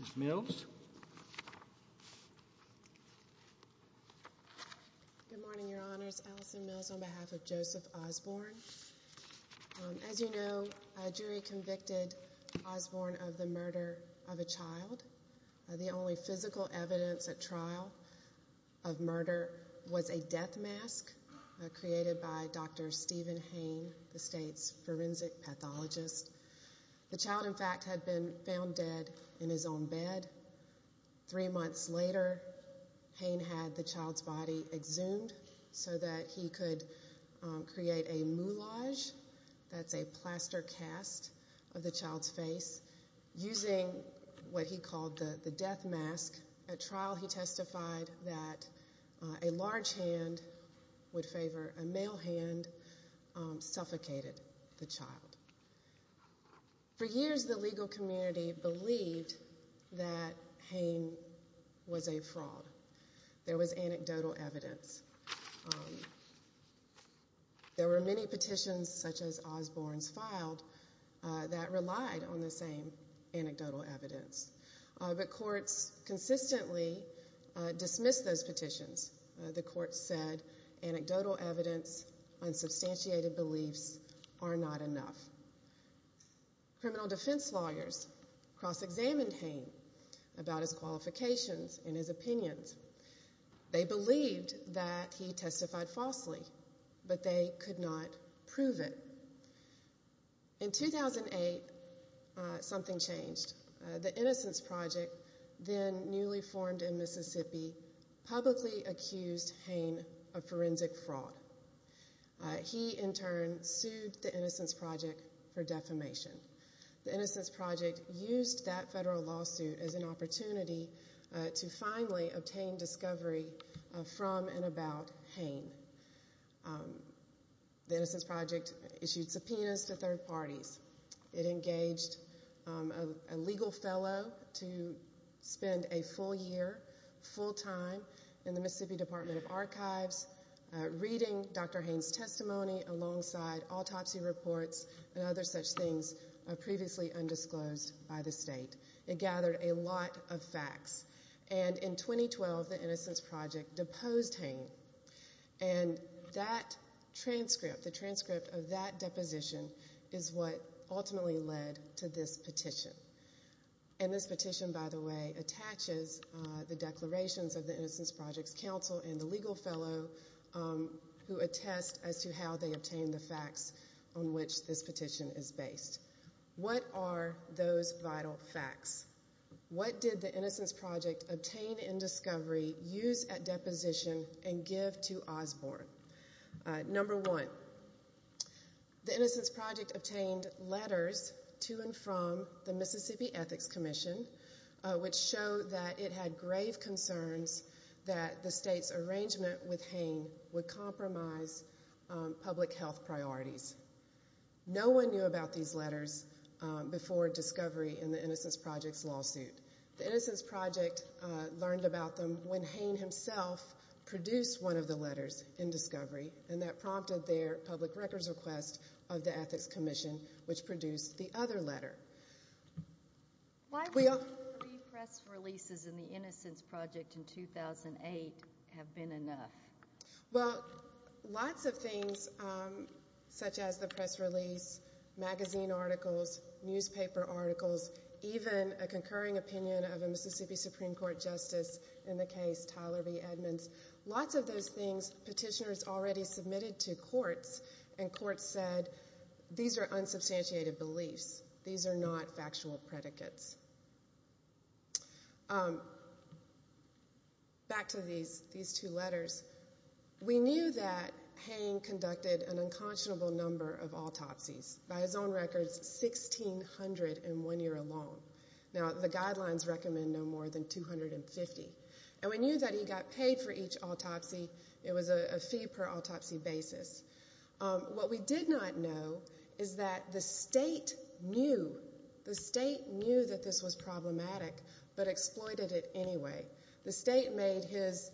Ms. Mills. Good morning, Your Honors. Allison Mills on behalf of Joseph Osborne. As you know, a jury convicted Osborne of the murder of a child. The only physical evidence at trial of murder was a death mask created by Dr. Stephen Hain, the state's forensic pathologist. The child, in fact, had been found dead in his own bed. Three months later, Hain had the child's body exhumed so that he could create a moulage, that's a plaster cast of the child's face, using what he called the death mask. At trial he testified that a large hand, would favor a male hand, suffocated the child. For years, the legal community believed that Hain was a fraud. There was anecdotal evidence. There were many petitions such as Osborne's filed that relied on the same anecdotal evidence. But courts consistently dismissed those petitions. The courts said anecdotal evidence, unsubstantiated beliefs are not enough. Criminal defense lawyers cross-examined Hain about his qualifications and his opinions. They believed that he testified falsely, but they could not prove it. In 2008, something changed. The Innocence Project, then newly formed in Mississippi, publicly accused Hain of forensic fraud. He, in turn, sued the Innocence Project for defamation. The Innocence Project used that federal lawsuit as an opportunity to finally obtain discovery from and about parties. It engaged a legal fellow to spend a full year, full time, in the Mississippi Department of Archives, reading Dr. Hain's testimony alongside autopsy reports and other such things previously undisclosed by the state. It gathered a lot of facts. And in 2012, the Innocence Project deposed Hain. And that transcript, the transcript of that ultimately led to this petition. And this petition, by the way, attaches the declarations of the Innocence Project's counsel and the legal fellow who attest as to how they obtained the facts on which this petition is based. What are those vital facts? What did the Innocence Project obtain in discovery, use at deposition, and give to Osborne? Number one, the Innocence Project obtained letters to and from the Mississippi Ethics Commission, which showed that it had grave concerns that the state's arrangement with Hain would compromise public health priorities. No one knew about these letters before discovery in the Innocence Project's lawsuit. The Innocence Project learned about them when Hain himself produced one of the letters in discovery, and that prompted their public records request of the Ethics Commission, which produced the other letter. Why would three press releases in the Innocence Project in 2008 have been enough? Well, lots of things, such as the press release, magazine articles, newspaper articles, even a concurring opinion of a Mississippi petitioner's already submitted to courts, and courts said, these are unsubstantiated beliefs. These are not factual predicates. Back to these two letters. We knew that Hain conducted an unconscionable number of autopsies. By his own records, 1,600 in one year alone. Now, the guidelines recommend no more than 250. And we knew that he got paid for each autopsy. It was a fee per autopsy basis. What we did not know is that the state knew, the state knew that this was problematic, but exploited it anyway. The state made his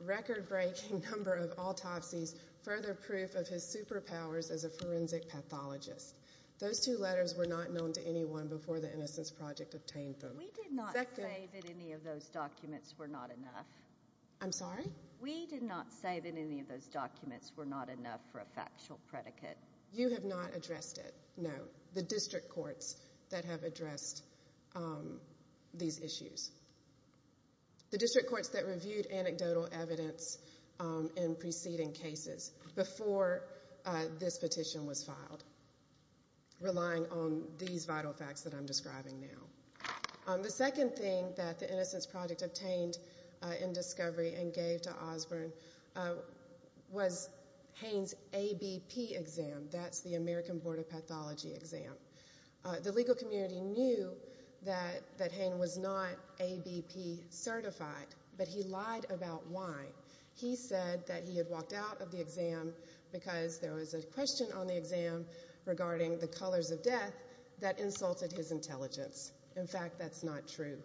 record-breaking number of autopsies further proof of his superpowers as a forensic pathologist. Those two letters were not known to anyone before the Innocence Project obtained them. We did not say that any of those documents were not enough. I'm sorry? We did not say that any of those documents were not enough for a factual predicate. You have not addressed it. No. The district courts that have addressed these issues. The district courts that reviewed relying on these vital facts that I'm describing now. The second thing that the Innocence Project obtained in discovery and gave to Osborne was Hain's ABP exam. That's the American Board of Pathology exam. The legal community knew that Hain was not ABP certified, but he lied about why. He said that he had walked out of the exam because there was a question on the exam regarding the colors of death that insulted his intelligence. In fact, that's not true.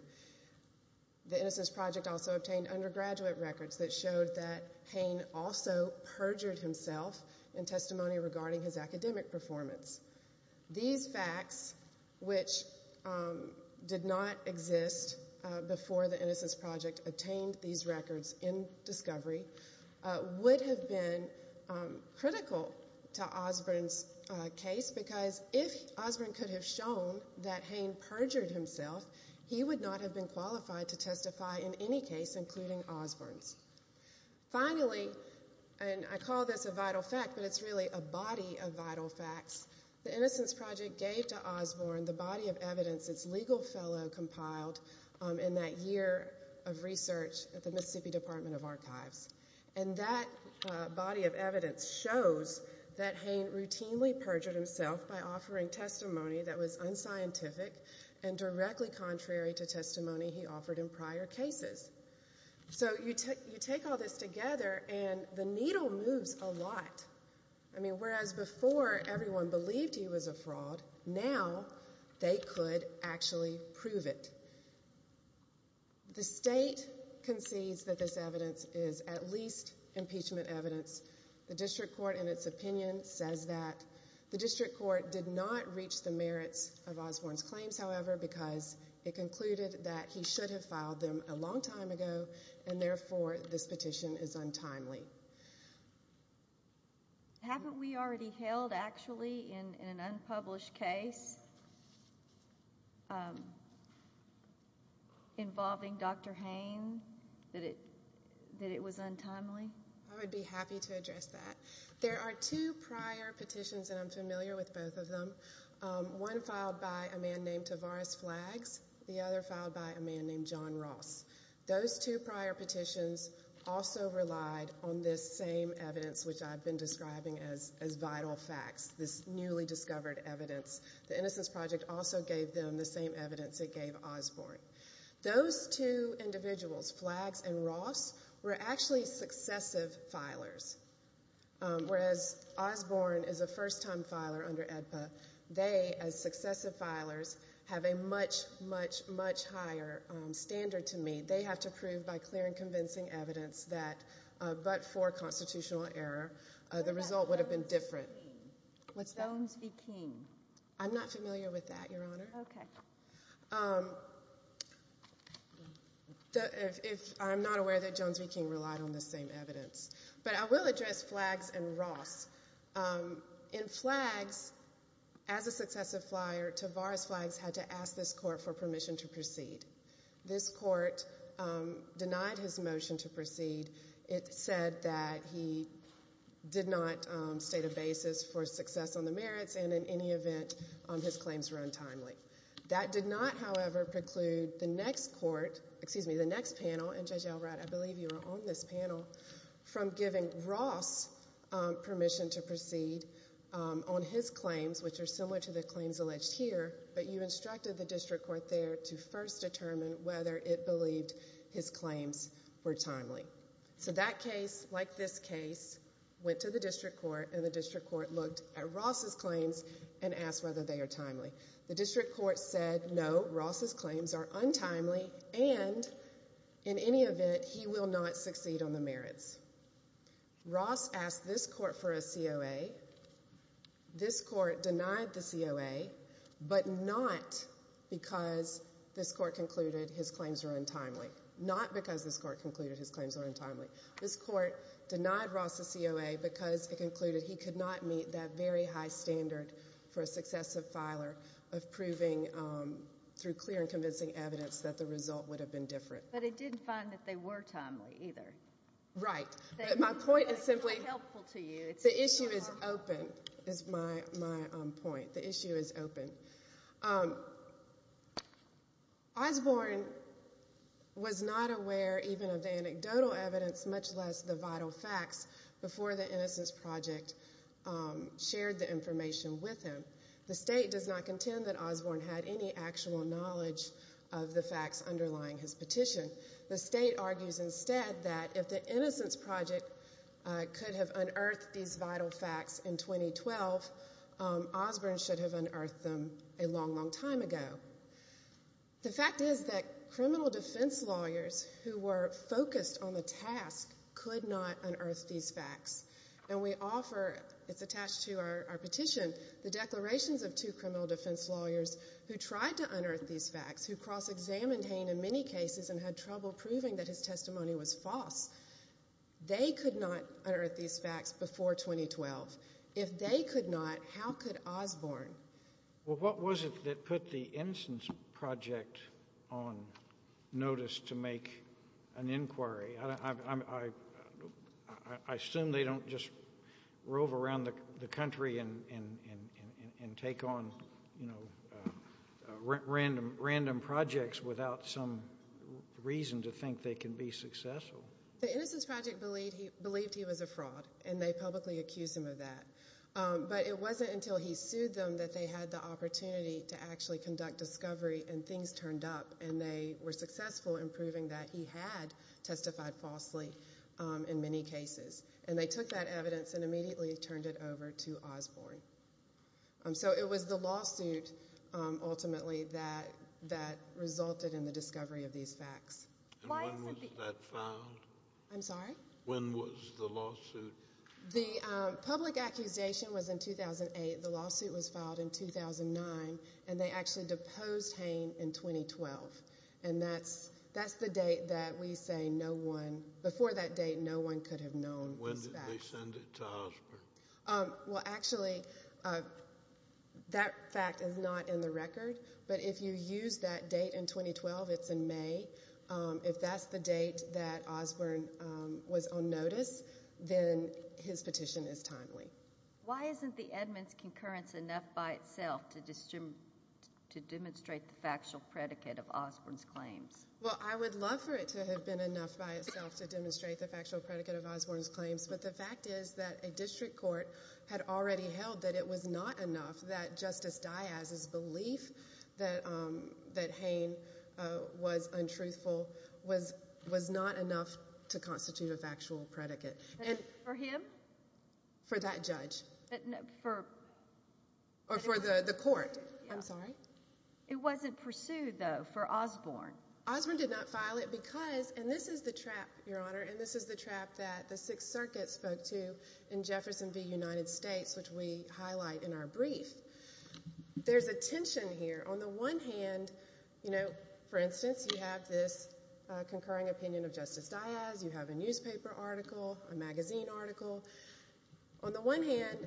The Innocence Project also obtained undergraduate records that showed that Hain also perjured himself in testimony regarding his academic performance. These facts, which did not exist before the Innocence Project obtained these records in discovery, would have been critical to Osborne's case because if Osborne could have shown that Hain perjured himself, he would not have been qualified to testify in any case, including Osborne's. Finally, and I call this a vital fact, but it's really a body of vital facts, the Innocence Project gave to Osborne the body of evidence its legal fellow compiled in that year of research at the Mississippi Department of Archives. And that body of evidence shows that Hain routinely perjured himself by offering testimony that was unscientific and directly contrary to testimony he offered in prior cases. So you take all this together and the needle moves a lot. I mean, whereas before everyone believed he was a fraud, now they could actually prove it. The state concedes that this evidence is at least impeachment evidence. The district court, in its opinion, says that. The district court did not reach the merits of Osborne's claims, however, because it concluded that he should have filed them a long time ago and therefore this petition is untimely. Haven't we already held, actually, in an unpublished case involving Dr. Hain that it was untimely? I would be happy to address that. There are two prior petitions, and I'm familiar with both of them. One filed by a man named Tavares Flags. The other filed by a man named John Ross. Those two prior petitions also relied on this same evidence, which I've been describing as vital facts, this newly discovered evidence. The Innocence Project also gave them the same evidence it gave Osborne. Those two individuals, Flags and Ross, were actually successive filers, whereas Osborne is a first-time filer under AEDPA. They, as successive filers, have a much, much, much higher standard to meet. They have to prove by clear and convincing evidence that, but for constitutional error, the result would have been different. What's that? Jones v. King. I'm not familiar with that, Your Honor. Okay. I'm not aware that Jones v. King relied on the same evidence, but I will address Flags and Ross. In Flags, as a successive flyer, Tavares Flags had to ask this Court for permission to proceed. This Court denied his motion to proceed. It said that he did not state a basis for success on the merits, and in any event, his claims were untimely. That did not, however, preclude the next panel, and Judge Elrod, I believe you were on this panel, from giving Ross permission to proceed on his claims, which are similar to the claims alleged here, but you instructed the district court there to first determine whether it believed his claims were timely. So that case, like this case, went to the district court, and the district court looked at Ross's claims and asked whether they are timely. The district court said no, Ross's claims are untimely, and in any event, he will not succeed on the merits. Ross asked this Court for a COA. This Court denied the COA, but not because this Court concluded his claims were untimely. Not because this Court concluded his claims were untimely. This Court denied Ross a COA because it concluded he could not meet that high standard for a successive filer of proving through clear and convincing evidence that the result would have been different. But it did find that they were timely, either. Right. My point is simply, the issue is open, is my point. The issue is open. Osborne was not aware even of the anecdotal evidence, much less the vital facts, before the Innocence Project shared the information with him. The State does not contend that Osborne had any actual knowledge of the facts underlying his petition. The State argues instead that if the Innocence Project could have unearthed these vital facts in 2012, Osborne should have unearthed them a long, long time ago. The fact is that criminal defense lawyers who were focused on the task could not unearth these facts. And we offer, it's attached to our petition, the declarations of two criminal defense lawyers who tried to unearth these facts, who cross-examined Hain in many cases and had trouble proving that his testimony was false. They could not unearth these facts before 2012. If they could not, how could Osborne? Well, what was it that put the Innocence Project on notice to make an inquiry? I assume they don't just rove around the country and take on, you know, random projects without some reason to think they can be successful. The Innocence Project believed he was a fraud, and they publicly accused him of that. But it wasn't until he sued them that they had the opportunity to actually conduct discovery, and things turned up, and they were successful in proving that he had testified falsely in many cases. And they took that evidence and immediately turned it over to Osborne. So it was the lawsuit, ultimately, that resulted in the discovery of these facts. And when was that filed? I'm sorry? When was the lawsuit? The public accusation was in 2008. The lawsuit was filed in 2009, and they actually deposed Hain in 2012. And that's the date that we say no one, before that date, no one could have known. When did they send it to Osborne? Well, actually, that fact is not in the record. But if you use that date in 2012, it's in May. If that's the date that Osborne was on notice, then his petition is timely. Why isn't the Edmunds concurrence enough by itself to demonstrate the factual predicate of Osborne's claims? Well, I would love for it to have been enough by itself to demonstrate the factual predicate of Osborne's claims. But the fact is that a district court had already held that it was not enough that Justice Diaz's belief that Hain was untruthful was not enough to constitute a factual predicate. For him? For that judge. For? Or for the court. I'm sorry? It wasn't pursued, though, for Osborne. Osborne did not file it because, and this is the trap, Your Honor, and this is the trap that the There's a tension here. On the one hand, you know, for instance, you have this concurring opinion of Justice Diaz. You have a newspaper article, a magazine article. On the one hand,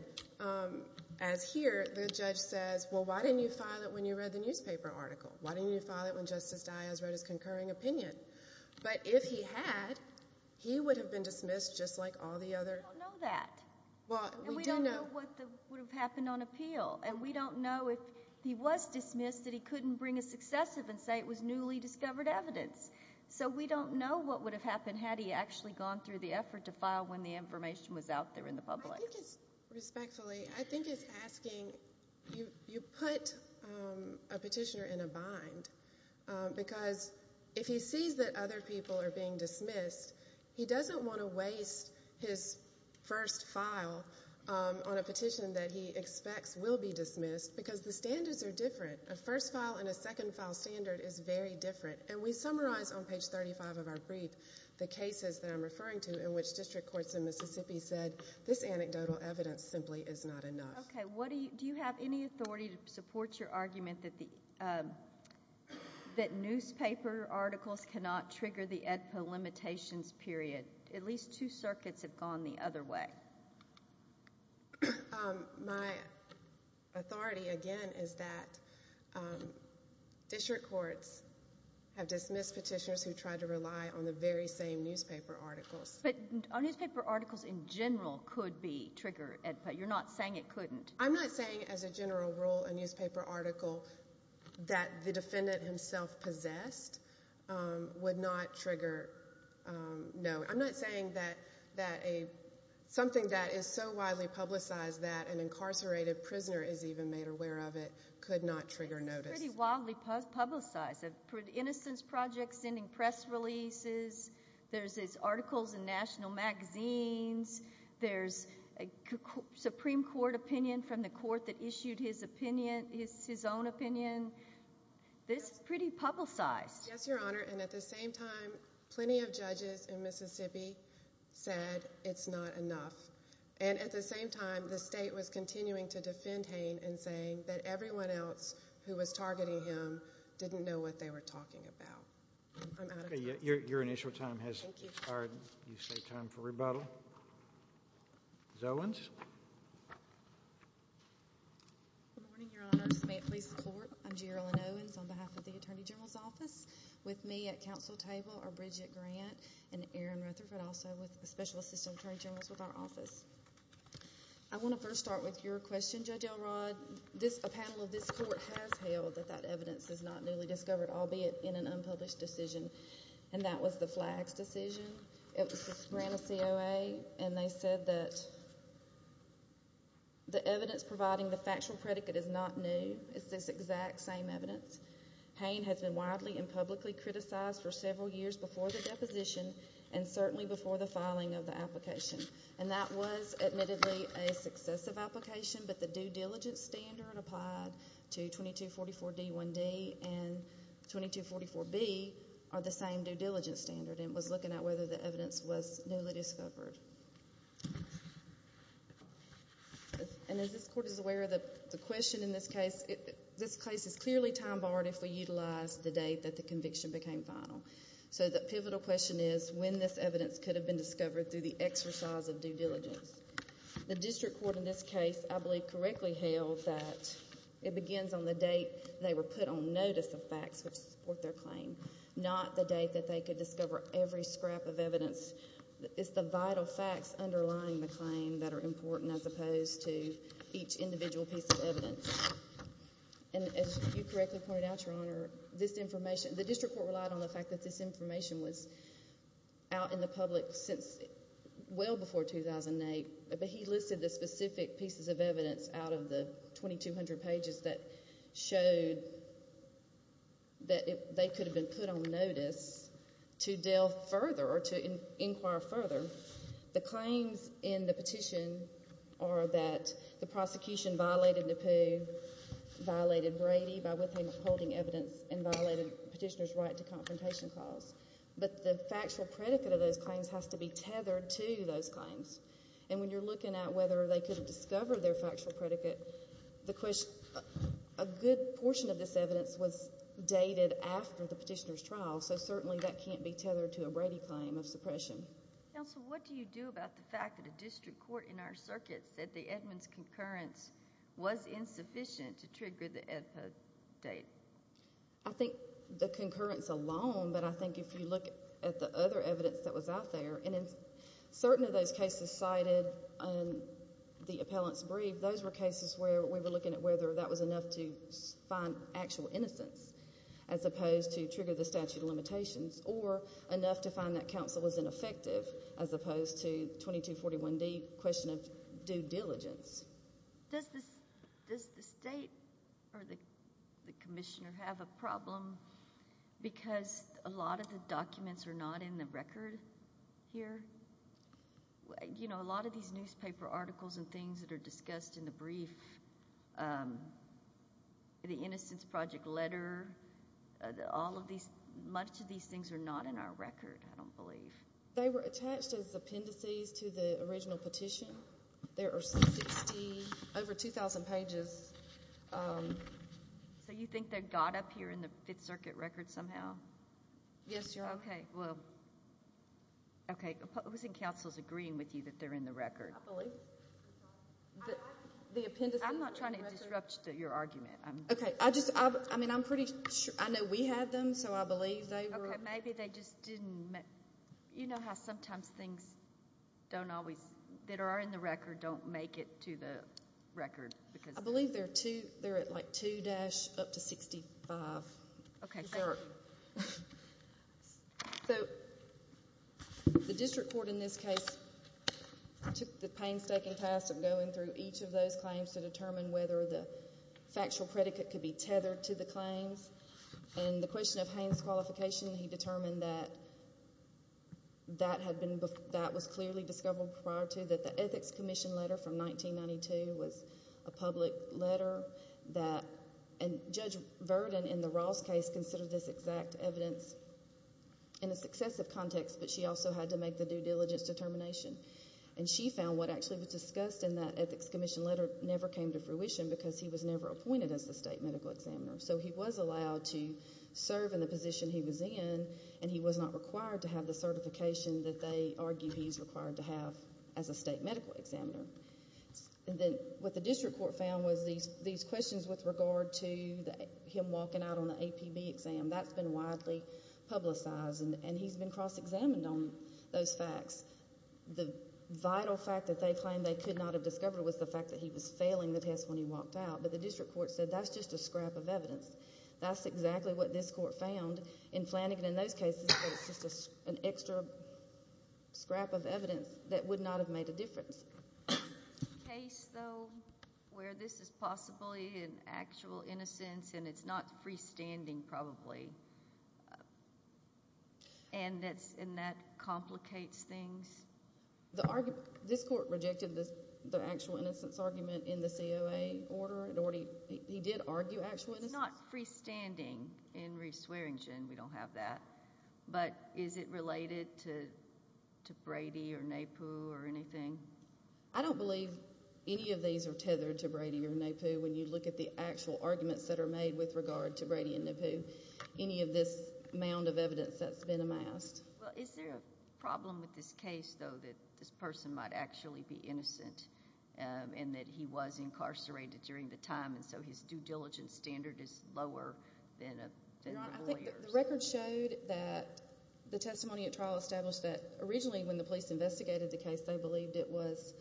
as here, the judge says, well, why didn't you file it when you read the newspaper article? Why didn't you file it when Justice Diaz read his concurring opinion? But if he had, he would have been dismissed just like all the other. We don't know that. Well, we do know. What would have happened on appeal, and we don't know if he was dismissed that he couldn't bring a successive and say it was newly discovered evidence. So we don't know what would have happened had he actually gone through the effort to file when the information was out there in the public. I think it's, respectfully, I think it's asking, you put a petitioner in a bind, because if he sees that other people are being dismissed, he doesn't want to waste his first file on a petition that he expects will be dismissed, because the standards are different. A first file and a second file standard is very different. And we summarize on page 35 of our brief the cases that I'm referring to in which district courts in Mississippi said, this anecdotal evidence simply is not enough. Okay. What do you, do you have any authority to support your argument that the, that newspaper articles cannot trigger the AEDPA limitations period? At least two circuits have gone the other way. Um, my authority, again, is that district courts have dismissed petitioners who tried to rely on the very same newspaper articles. But newspaper articles in general could be triggered, but you're not saying it couldn't. I'm not saying as a general rule, a newspaper article that the defendant himself possessed um, would not trigger, um, no, I'm not saying that, that a, something that is so widely publicized that an incarcerated prisoner is even made aware of it could not trigger notice. It's pretty wildly publicized. Innocence Project sending press releases. There's these articles in national magazines. There's a Supreme Court opinion from the court that issued his opinion, his, his own opinion. This is pretty publicized. Yes, Your Honor. And at the same time, plenty of judges in Mississippi said it's not enough. And at the same time, the state was continuing to defend Hain and saying that everyone else who was targeting him didn't know what they were talking about. I'm out of time. Your, your initial time has expired. You say time for rebuttal. Ms. Owens. Good morning, Your Honors. May it please the Court. I'm Gerilyn Owens on behalf of the Attorney General's Office. With me at council table are Bridget Grant and Aaron Rutherford, also with Special Assistant Attorney General's with our office. I want to first start with your question, Judge Elrod. This, a panel of this court has held that that evidence is not newly discovered, albeit in an unpublished decision, and that was the FLAGS decision. It was granted COA, and they said that the evidence providing the factual predicate is not new. It's this exact same evidence. Hain has been widely and publicly criticized for several years before the deposition, and certainly before the filing of the application. And that was admittedly a successive application, but the due diligence standard applied to 2244 D1D and 2244 B are the same due diligence standard. And it was looking at whether the evidence was newly discovered. And as this court is aware of the question in this case, this case is clearly time barred if we utilize the date that the conviction became final. So the pivotal question is when this evidence could have been discovered through the exercise of due diligence. The district court in this case, I believe, correctly held that it begins on the date they were put on notice of facts which support their claim, not the date that they could discover every scrap of evidence. It's the vital facts underlying the claim that are important as opposed to each individual piece of evidence. And as you correctly pointed out, Your Honor, this information, the district court relied on the fact that this information was out in the public since well before 2008, but he listed the specific pieces of evidence out of the 2200 pages that showed that they could have been put on notice to delve further or to inquire further. The claims in the petition are that the prosecution violated Napoo, violated Brady by withholding evidence, and violated petitioner's right to confrontation clause. But the factual predicate of those claims has to be tethered to those claims. And when you're looking at whether they could have discovered their factual predicate, the question, a good portion of this evidence was dated after the petitioner's trial, so certainly that can't be tethered to a Brady claim of suppression. Counsel, what do you do about the fact that a district court in our circuit said the Edmunds concurrence was insufficient to trigger the Edpa date? I think the concurrence alone, but I think if you look at the other evidence that was out there, and in certain of those cases cited on the appellant's brief, those were cases where we were looking at whether that was enough to find actual innocence, as opposed to trigger the statute of limitations, or enough to find that counsel was ineffective, as opposed to 2241D, question of due diligence. Does the state or the commissioner have a problem because a lot of the documents are not in the record here? You know, a lot of these newspaper articles and things that are discussed in the brief, the Innocence Project letter, all of these, much of these things are not in our record, I don't believe. They were attached as appendices to the original petition. There are over 2,000 pages. So you think they got up here in the Fifth Circuit record somehow? Yes, Your Honor. Okay, well, okay, who's in counsel's agreeing with you that they're in the record? I believe. The appendices. I'm not trying to disrupt your argument. Okay, I just, I mean, I'm pretty sure, I know we had them, so I believe they were. Okay, maybe they just didn't, you know how sometimes things don't always, that are in the record don't make it to the record because. I believe they're at like 2- up to 65. Okay. So the district court in this case took the painstaking task of going through each of those claims to determine whether the factual predicate could be tethered to the claims. And the question of Haines' qualification, he determined that that had been, that was clearly discovered prior to that. The Ethics Commission letter from 1992 was a public letter that, and Judge Verden in the Ross case considered this exact evidence in a successive context, but she also had to make the due diligence determination. And she found what actually was discussed in that Ethics Commission letter never came to fruition because he was never appointed as the state medical examiner. So he was allowed to serve in the position he was in, and he was not required to have the certification that they argue he's required to have as a state medical examiner. And then what the district court found was these questions with regard to him walking out on the APB exam. That's been widely publicized, and he's been cross-examined on those facts. The vital fact that they claimed they could not have discovered was the fact that he was failing the test when he walked out, but the district court said that's just a scrap of evidence. That's exactly what this court found in Flanagan in those cases, but it's just an extra scrap of evidence that would not have made a difference. Case, though, where this is possibly an actual innocence, and it's not freestanding, probably, and that complicates things. This court rejected the actual innocence argument in the COA order. He did argue actual innocence. It's not freestanding in Reese Swearingen. We don't have that. But is it related to Brady or Naipoo or anything? I don't believe any of these are tethered to Brady or Naipoo. When you look at the actual arguments that are made with regard to Brady and Naipoo, any of this mound of evidence that's been amassed. Well, is there a problem with this case, though, that this person might actually be innocent and that he was incarcerated during the time, and so his due diligence standard is lower than a lawyer's? The record showed that the testimony at trial established that originally when the police investigated the case, they believed it was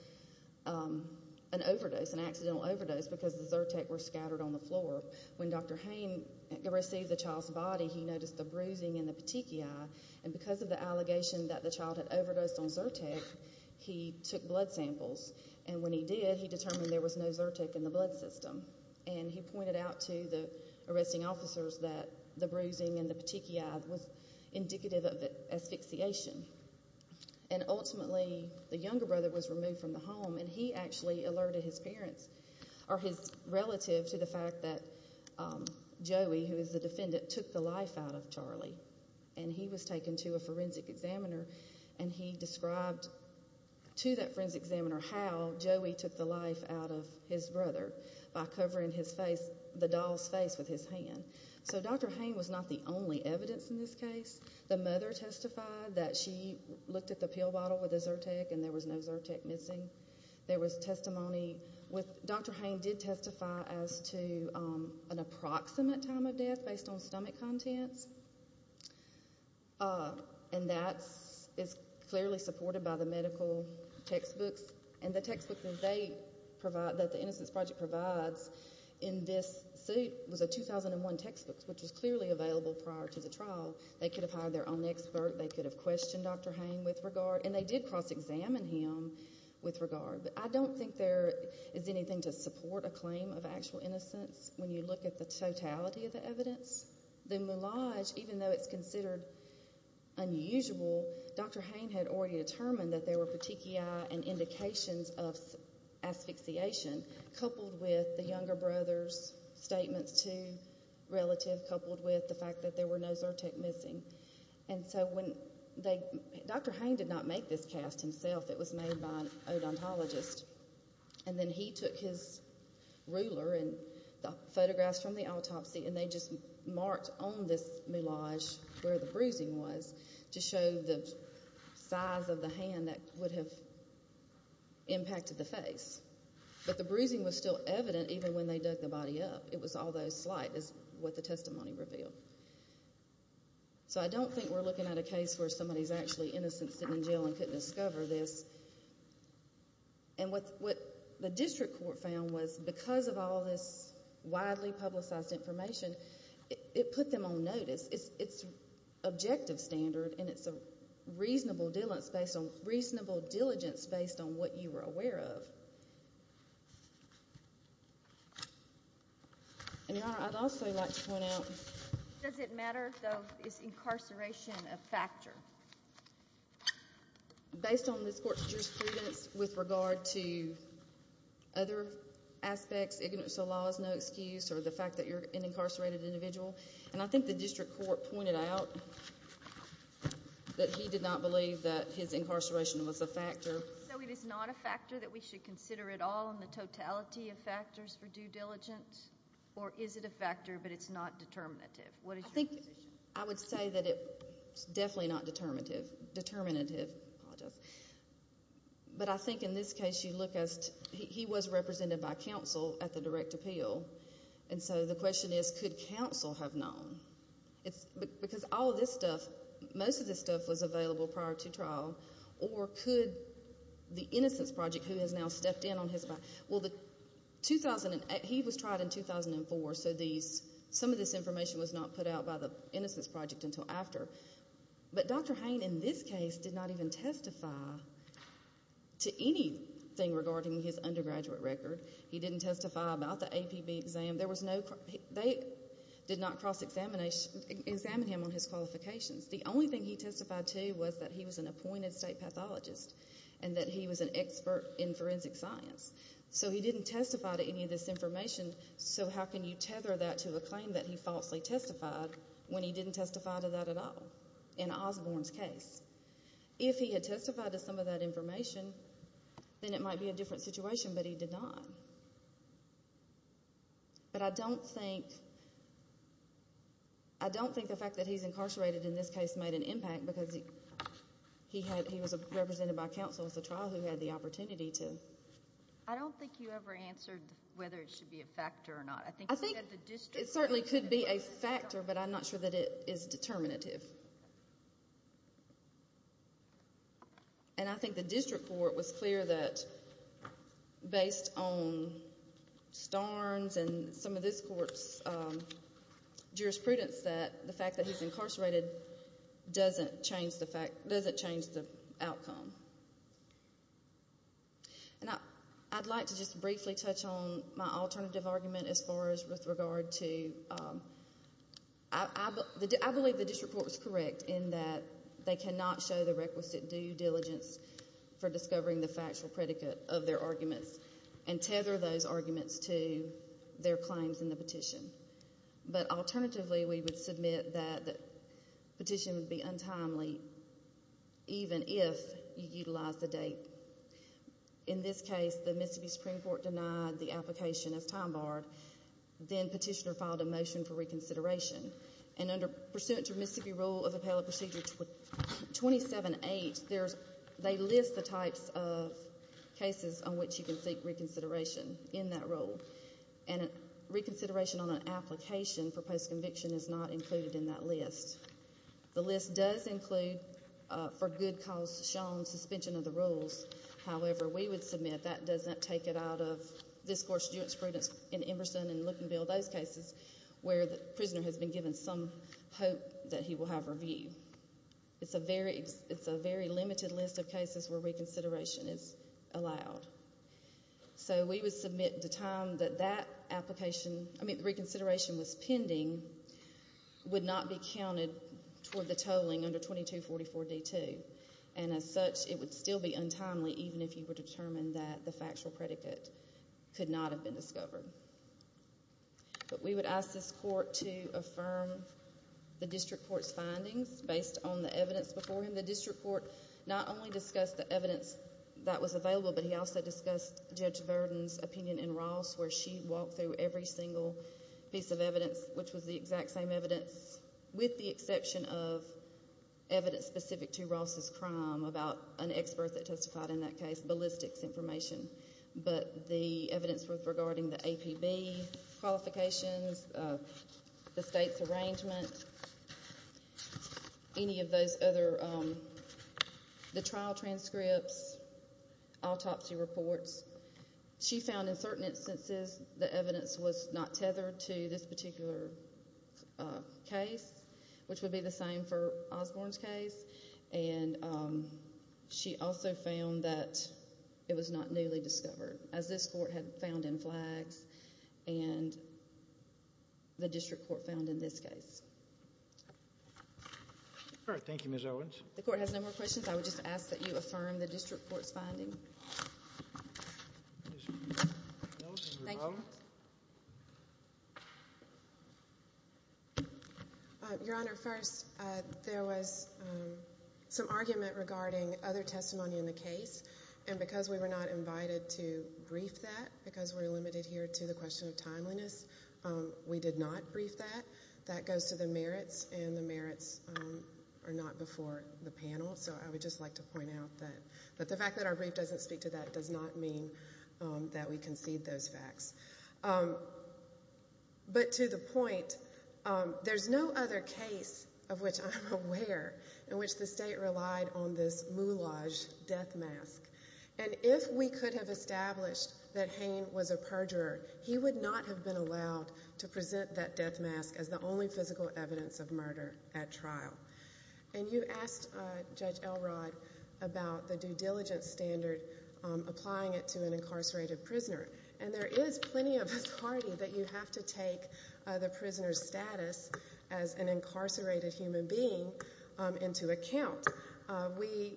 an overdose, an accidental overdose, because the Zyrtec were scattered on the floor. When Dr. Hain received the child's body, he noticed the bruising in the petechiae, and because of the allegation that the child had overdosed on Zyrtec, he took blood samples. And when he did, he determined there was no Zyrtec in the blood system. And he pointed out to the arresting officers that the bruising in the petechiae was indicative of asphyxiation. And ultimately, the younger brother was removed from the home, and he actually alerted his parents, or his relative, to the fact that Joey, who is the defendant, took the life out of Charlie. And he was taken to a forensic examiner, and he described to that forensic examiner how Joey took the life out of his brother by covering his face, the doll's face, with his hand. So Dr. Hain was not the only evidence in this case. The mother testified that she looked at the pill bottle with the Zyrtec, and there was no Zyrtec missing. There was testimony with... Dr. Hain did testify as to an approximate time of death, based on stomach contents. And that is clearly supported by the medical textbooks. And the textbook that they provide, that the Innocence Project provides in this suit was a 2001 textbook, which was clearly available prior to the trial. They could have hired their own expert. They could have questioned Dr. Hain with regard. And they did cross-examine him with regard. But I don't think there is anything to support a claim of actual innocence when you look at the totality of the evidence. The moulage, even though it's considered unusual, Dr. Hain had already determined that there were petechiae and indications of asphyxiation, coupled with the younger brother's statements to relative, coupled with the fact that there were no Zyrtec missing. And so when they... Dr. Hain did not make this cast himself. It was made by an odontologist. And then he took his ruler and the photographs from the autopsy, and they just marked on this moulage where the bruising was to show the size of the hand that would have impacted the face. But the bruising was still evident even when they dug the body up. It was although slight, is what the testimony revealed. So I don't think we're looking at a case where somebody's actually innocent, sitting in jail, and couldn't discover this. And what the district court found was, because of all this widely publicized information, it put them on notice. It's objective standard, and it's a reasonable diligence based on what you were aware of. And Your Honor, I'd also like to point out... Does it matter, though, is incarceration a factor? Based on this court's jurisprudence with regard to other aspects, ignorance of the law is no excuse, or the fact that you're an incarcerated individual. And I think the district court pointed out that he did not believe that his incarceration was a factor. So it is not a factor that we should consider at all, in the totality of factors for due diligence? Or is it a factor, but it's not determinative? What is your position? I would say that it's definitely not determinative. But I think in this case, you look as... He was represented by counsel at the direct appeal. And so the question is, could counsel have known? Because all of this stuff, most of this stuff was available prior to trial. Or could the Innocence Project, who has now stepped in on his... Well, he was tried in 2004, so some of this information was not put out by the Innocence Project until after. But Dr. Hain, in this case, did not even testify to anything regarding his undergraduate record. He didn't testify about the APB exam. There was no... They did not cross-examine him on his qualifications. The only thing he testified to was that he was an appointed state pathologist and that he was an expert in forensic science. So he didn't testify to any of this information. So how can you tether that to a claim that he falsely testified when he didn't testify to that at all in Osborne's case? If he had testified to some of that information, then it might be a different situation, but he did not. But I don't think... I don't think the fact that he's incarcerated in this case made an impact because he had... He was represented by counsel at the trial who had the opportunity to... I don't think you ever answered whether it should be a factor or not. I think you said the district... It certainly could be a factor, but I'm not sure that it is determinative. And I think the district court was clear that, based on Starnes and some of this court's jurisprudence, that the fact that he's incarcerated doesn't change the outcome. And I'd like to just briefly touch on my alternative argument as far as with regard to... I believe the district court was correct in that they cannot show the requisite due diligence for discovering the factual predicate of their arguments and tether those arguments to their claims in the petition. But alternatively, we would submit that the petition would be untimely even if you utilize the date. In this case, the Mississippi Supreme Court denied the application as time-barred. Then petitioner filed a motion for reconsideration. And under pursuant to Mississippi Rule of Appellate Procedure 27-8, they list the types of cases on which you can seek reconsideration in that rule. And reconsideration on an application for post-conviction is not included in that list. The list does include, for good cause shown, suspension of the rules. However, we would submit that doesn't take it out of this court's jurisprudence in Emerson and Luckenbill, those cases where the prisoner has been given some hope that he will have review. It's a very limited list of cases where reconsideration is allowed. So we would submit the time that that application... I mean, the reconsideration was pending would not be counted toward the tolling under 2244-D2. And as such, it would still be untimely even if you were determined that the factual predicate could not have been discovered. But we would ask this court to affirm the district court's findings based on the evidence before him. The district court not only discussed the evidence that was available, but he also discussed Judge Verdon's opinion in Ross where she walked through every single piece of evidence which was the exact same evidence with the exception of evidence specific to Ross's crime about an expert that testified in that case, ballistics information. But the evidence regarding the APB qualifications, the state's arrangement, any of those other... the trial transcripts, autopsy reports, she found in certain instances the evidence was not tethered to this particular case, which would be the same for Osborne's case. And she also found that it was not newly discovered as this court had found in flags and the district court found in this case. All right. Thank you, Ms. Owens. The court has no more questions. I would just ask that you affirm the district court's finding. Thank you. Your Honor, first, there was some argument regarding other testimony in the case. And because we were not invited to brief that, because we're limited here to the question of timeliness, we did not brief that. That goes to the merits and the merits are not before the panel. So I would just like to point out that the fact that our brief doesn't speak to that does not mean that we concede those facts. But to the point, there's no other case of which I'm aware in which the state relied on this moulage death mask. And if we could have established that Hain was a perjurer, he would not have been allowed to present that death mask as the only physical evidence of murder at trial. And you asked Judge Elrod about the due diligence standard applying it to an incarcerated prisoner. And there is plenty of authority that you have to take the prisoner's status as an incarcerated human being into account. We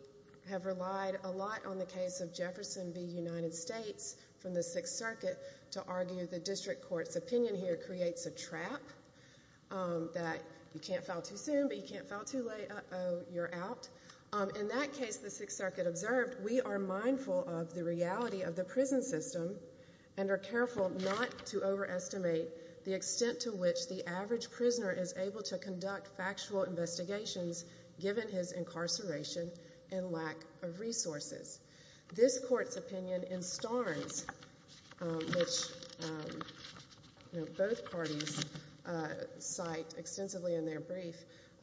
have relied a lot on the case of Jefferson v. United States from the Sixth Circuit to argue the district court's opinion here creates a trap that you can't file too soon, but you can't file too late. Uh-oh, you're out. In that case, the Sixth Circuit observed, we are mindful of the reality of the prison system and are careful not to overestimate the extent to which the average prisoner is able to conduct factual investigations given his incarceration and lack of resources. This court's opinion in Starnes, which both parties cite extensively in their brief,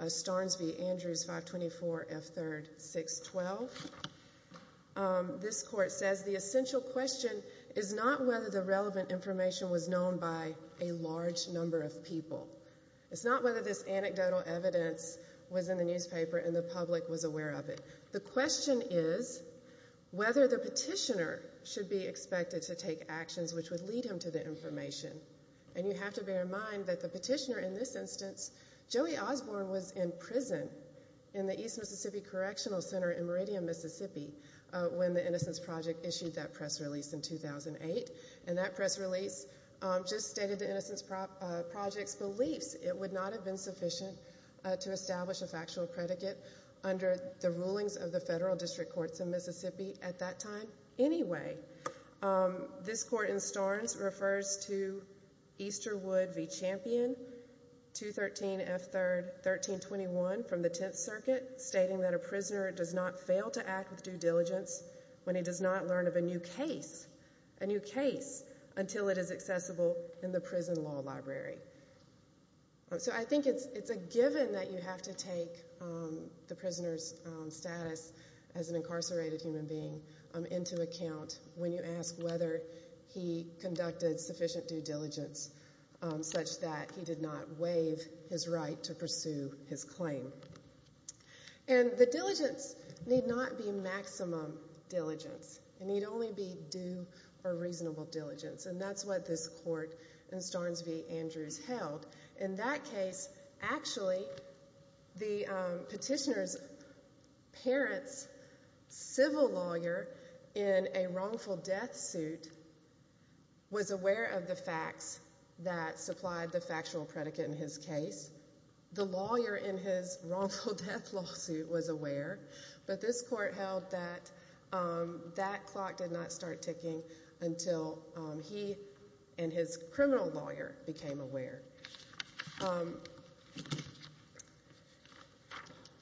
Starnes v. Andrews, 524 F. 3rd, 612, this court says the essential question is not whether the relevant information was known by a large number of people. It's not whether this anecdotal evidence was in the newspaper and the public was aware of it. The question is whether the petitioner should be expected to take actions which would lead him to the information. And you have to bear in mind that the petitioner in this instance, Joey Osborne, was in prison in the East Mississippi Correctional Center in Meridian, Mississippi when the Innocence Project issued that press release in 2008. And that press release just stated the Innocence Project's beliefs. It would not have been sufficient to establish a factual predicate under the rulings of the federal district courts in Mississippi at that time. Anyway, this court in Starnes refers to Easterwood v. Champion, 213 F. 3rd, 1321 from the Tenth Circuit, stating that a prisoner does not fail to act with due diligence when he does not learn of a new case, a new case until it is accessible in the prison law library. So I think it's a given that you have to take the prisoner's status as an incarcerated human being into account when you ask whether he conducted sufficient due diligence such that he did not waive his right to pursue his claim. And the diligence need not be maximum diligence. It need only be due or reasonable diligence. And that's what this court in Starnes v. Andrews held. In that case, actually, the petitioner's parents, civil lawyer in a wrongful death suit was aware of the facts that supplied the factual predicate in his case. The lawyer in his wrongful death lawsuit was aware, but this court held that that clock did not start ticking until he and his criminal lawyer became aware.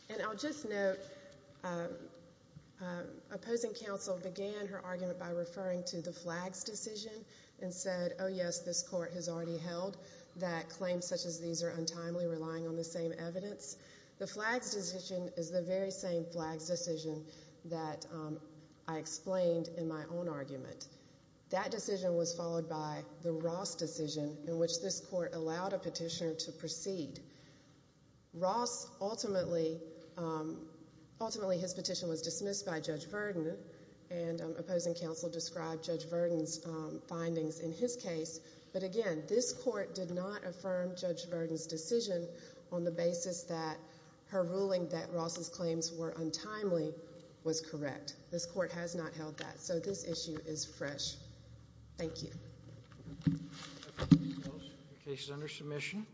And I'll just note, opposing counsel began her argument by referring to the Flags decision and said, oh, yes, this court has already held that claims such as these are untimely relying on the same evidence. The Flags decision is the very same Flags decision that I explained in my own argument. That decision was followed by the Ross decision in which this court allowed a petitioner to proceed. Ross ultimately, ultimately his petition was dismissed by Judge Verdon and opposing counsel described Judge Verdon's findings in his case. But again, this court did not affirm Judge Verdon's decision on the basis that her ruling that Ross's claims were untimely was correct. This court has not held that. So this issue is fresh. Thank you. Case is under submission.